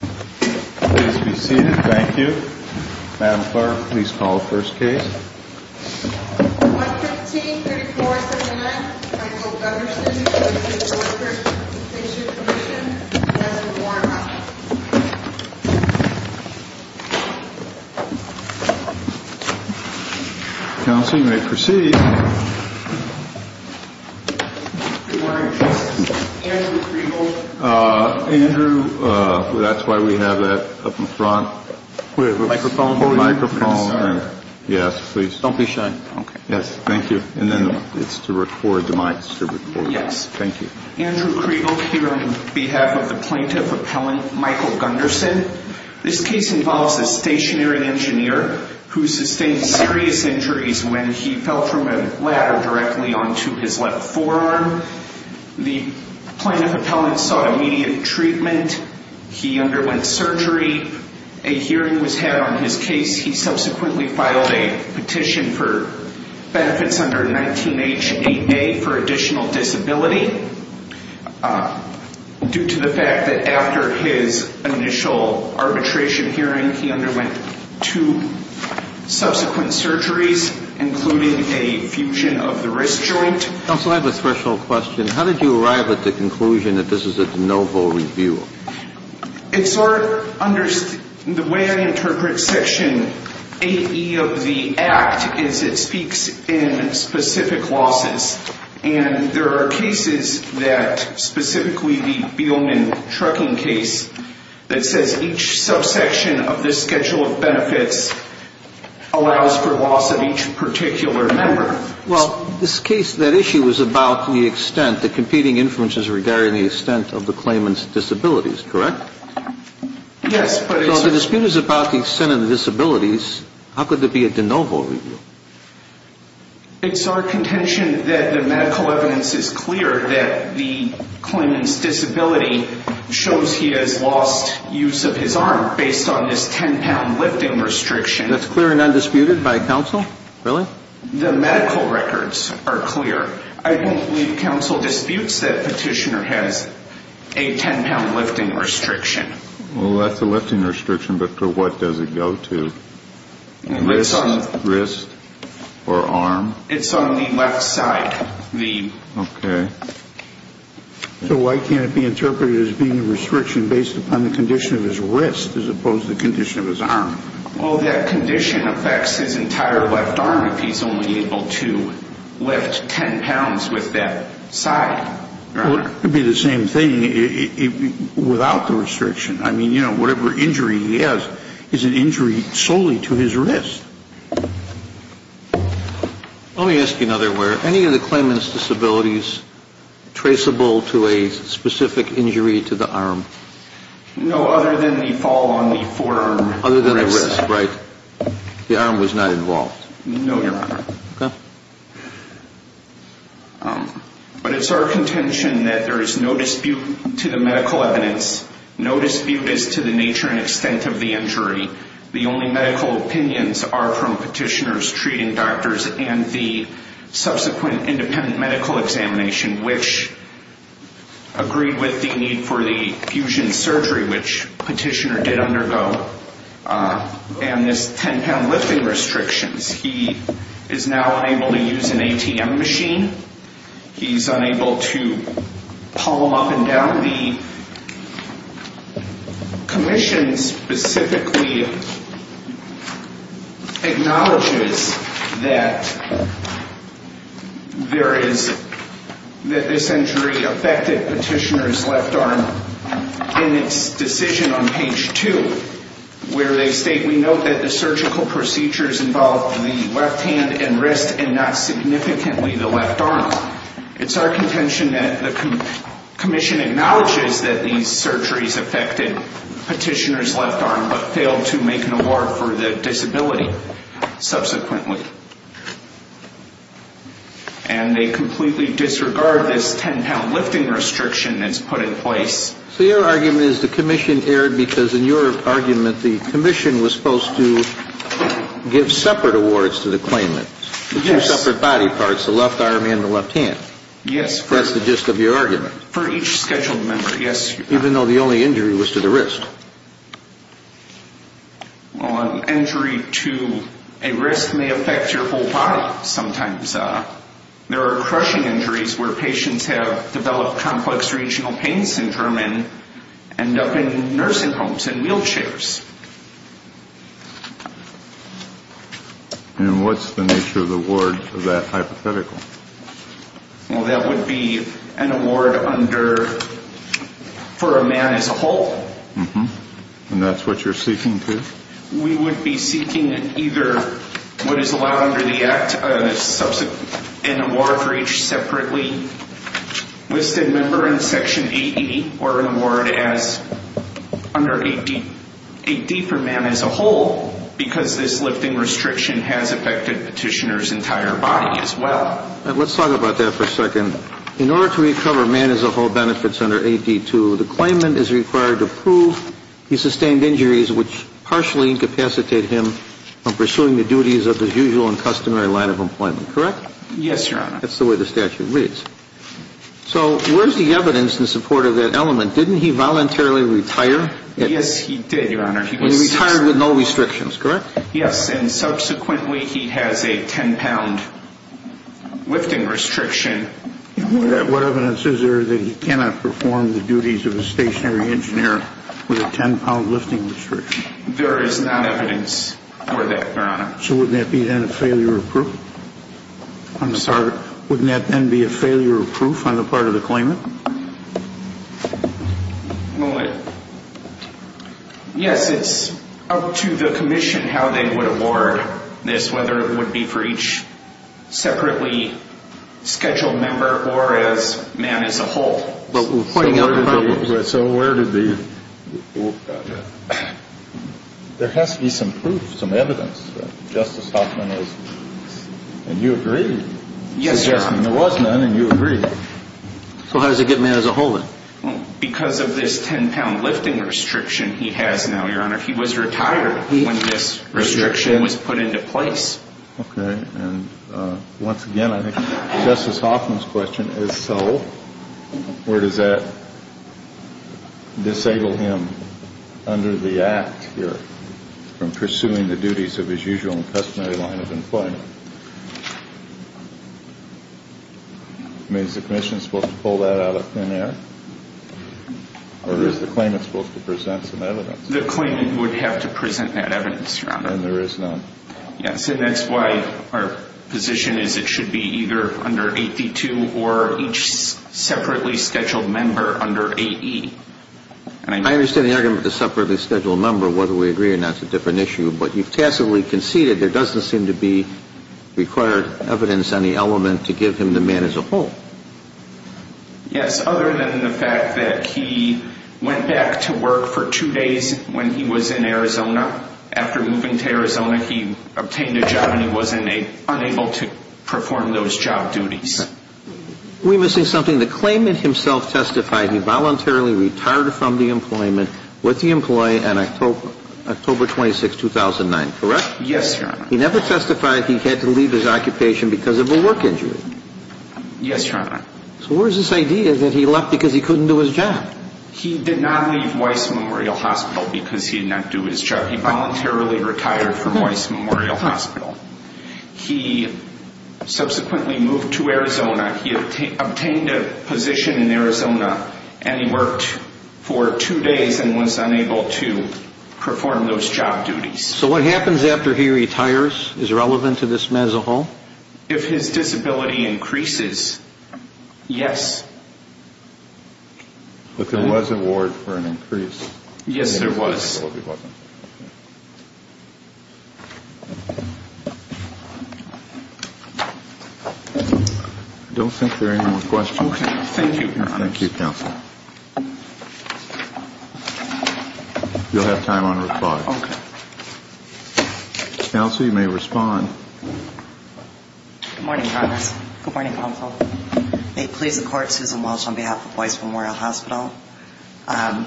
Please be seated. Thank you. Madam Clerk, please call the first case. 115-3479 Michael Gunderson v. Workers' Compensation Comm'n v. Warner Counsel, you may proceed. Good morning, Justice. Andrew Kregel? Andrew, that's why we have that up in front. Microphone? Microphone. Yes, please. Don't be shy. Yes, thank you. And then it's to record, the mic's to record. Yes. Thank you. Andrew Kregel here on behalf of the Plaintiff Appellant Michael Gunderson. This case involves a stationary engineer who sustained serious injuries when he fell from a ladder directly onto his left forearm. The Plaintiff Appellant sought immediate treatment. He underwent surgery. A hearing was had on his case. He subsequently filed a petition for benefits under 19H8A for additional disability. Due to the fact that after his initial arbitration hearing, he underwent two subsequent surgeries, including a fusion of the wrist joint. Counsel, I have a threshold question. How did you arrive at the conclusion that this is a de novo review? It sort of, the way I interpret Section AE of the Act is it speaks in specific losses. And there are cases that specifically the Beelman trucking case that says each subsection of the schedule of benefits allows for loss of each particular member. Well, this case, that issue was about the extent, the competing inferences regarding the extent of the claimant's disabilities, correct? Yes. So the dispute is about the extent of the disabilities. How could there be a de novo review? It's our contention that the medical evidence is clear that the claimant's disability shows he has lost use of his arm based on this 10-pound lifting restriction. That's clear and undisputed by counsel? Really? The medical records are clear. I don't believe counsel disputes that petitioner has a 10-pound lifting restriction. Well, that's a lifting restriction, but for what does it go to? Wrist or arm? It's on the left side. Okay. So why can't it be interpreted as being a restriction based upon the condition of his wrist as opposed to the condition of his arm? Well, that condition affects his entire left arm if he's only able to lift 10 pounds with that side. Well, it could be the same thing without the restriction. I mean, you know, whatever injury he has is an injury solely to his wrist. Let me ask you another way. Are any of the claimant's disabilities traceable to a specific injury to the arm? No, other than the fall on the forearm. Other than the wrist, right? The arm was not involved. No, Your Honor. Okay. But it's our contention that there is no dispute to the medical evidence. No dispute is to the nature and extent of the injury. The only medical opinions are from petitioners, treating doctors, and the subsequent independent medical examination, which agreed with the need for the fusion surgery, which petitioner did undergo. And this 10-pound lifting restrictions, he is now unable to use an ATM machine. He's unable to palm up and down. The commission specifically acknowledges that this injury affected petitioner's left arm in its decision on page 2, where they state, we note that the surgical procedures involved the left hand and wrist and not significantly the left arm. It's our contention that the commission acknowledges that these surgeries affected petitioner's left arm, but failed to make an award for the disability subsequently. And they completely disregard this 10-pound lifting restriction that's put in place. So your argument is the commission erred because, in your argument, the commission was supposed to give separate awards to the claimant. Yes. The two separate body parts, the left arm and the left hand. Yes. That's the gist of your argument. For each scheduled member, yes. Even though the only injury was to the wrist. Well, an injury to a wrist may affect your whole body sometimes. There are crushing injuries where patients have developed complex regional pain syndrome and end up in nursing homes and wheelchairs. And what's the nature of the award of that hypothetical? Well, that would be an award under, for a man as a whole. And that's what you're seeking to? We would be seeking either what is allowed under the Act, an award for each separately listed member in Section 80, or an award as under 80 for a man as a whole because this lifting restriction has affected petitioner's entire body as well. Let's talk about that for a second. In order to recover man as a whole benefits under 80-2, the claimant is required to prove he sustained injuries which partially incapacitate him from pursuing the duties of his usual and customary line of employment. Correct? Yes, Your Honor. That's the way the statute reads. So where's the evidence in support of that element? Didn't he voluntarily retire? Yes, he did, Your Honor. He retired with no restrictions. Correct? Yes, and subsequently he has a 10-pound lifting restriction. What evidence is there that he cannot perform the duties of a stationary engineer with a 10-pound lifting restriction? There is not evidence for that, Your Honor. So wouldn't that be then a failure of proof? I'm sorry? Wouldn't that then be a failure of proof on the part of the claimant? Well, yes, it's up to the commission how they would award this, whether it would be for each separately scheduled member or as man as a whole. So where did the – there has to be some proof, some evidence that Justice Hoffman is – and you agree. Yes, Your Honor. Justice Hoffman, there was none and you agree. So how does it get man as a whole then? Because of this 10-pound lifting restriction he has now, Your Honor. He was retired when this restriction was put into place. Okay. And once again, I think Justice Hoffman's question is so. Where does that disable him under the Act here from pursuing the duties of his usual and customary line of employment? I mean, is the commission supposed to pull that out of thin air? Or is the claimant supposed to present some evidence? The claimant would have to present that evidence, Your Honor. And there is none. Yes. And that's why our position is it should be either under 82 or each separately scheduled member under AE. I understand the argument of the separately scheduled member, whether we agree or not is a different issue. But you've tacitly conceded there doesn't seem to be required evidence on the element to give him the man as a whole. Yes, other than the fact that he went back to work for two days when he was in Arizona. After moving to Arizona, he obtained a job and he was unable to perform those job duties. We must say something. The claimant himself testified he voluntarily retired from the employment with the employee on October 26, 2009, correct? Yes, Your Honor. He never testified he had to leave his occupation because of a work injury. Yes, Your Honor. So where is this idea that he left because he couldn't do his job? He did not leave Weiss Memorial Hospital because he did not do his job. He voluntarily retired from Weiss Memorial Hospital. He subsequently moved to Arizona. He obtained a position in Arizona and he worked for two days and was unable to perform those job duties. So what happens after he retires is relevant to this man as a whole? If his disability increases, yes. But there was a warrant for an increase. Yes, there was. I don't think there are any more questions. Okay. Thank you, Your Honor. Thank you, Counsel. You'll have time on reply. Okay. Counsel, you may respond. Good morning, Your Honor. Good morning, Counsel. May it please the Court, Susan Walsh on behalf of Weiss Memorial Hospital. I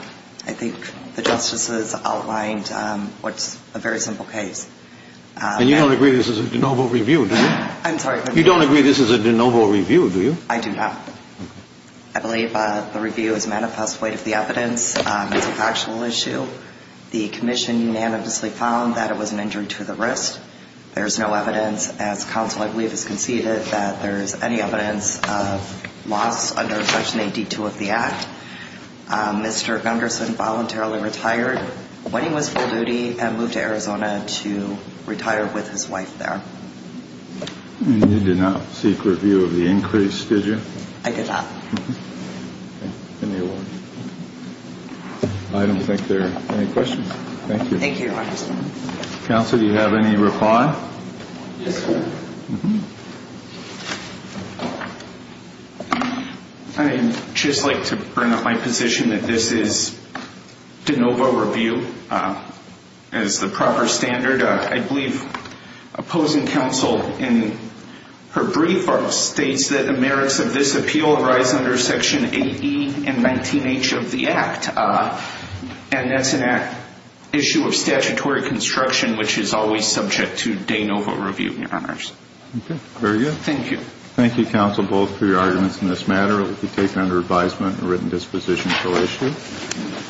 think the justices outlined what's a very simple case. And you don't agree this is a de novo review, do you? I'm sorry? You don't agree this is a de novo review, do you? I do not. Okay. I believe the review is manifest light of the evidence. It's a factual issue. The commission unanimously found that it was an injury to the wrist. There is no evidence, as Counsel, I believe, has conceded, that there is any evidence of loss under Section 82 of the Act. Mr. Gunderson voluntarily retired when he was full duty and moved to Arizona to retire with his wife there. And you did not seek review of the increase, did you? I did not. Okay. I don't think there are any questions. Thank you. Thank you, Your Honor. Counsel, do you have any reply? Yes, sir. I would just like to bring up my position that this is de novo review as the proper standard. I believe opposing counsel in her brief states that the merits of this appeal arise under Section 8E and 19H of the Act. And that's an issue of statutory construction, which is always subject to de novo review, Your Honors. Okay. Very good. Thank you. Thank you, Counsel, both, for your arguments in this matter. It will be taken under advisement and written disposition for legislation.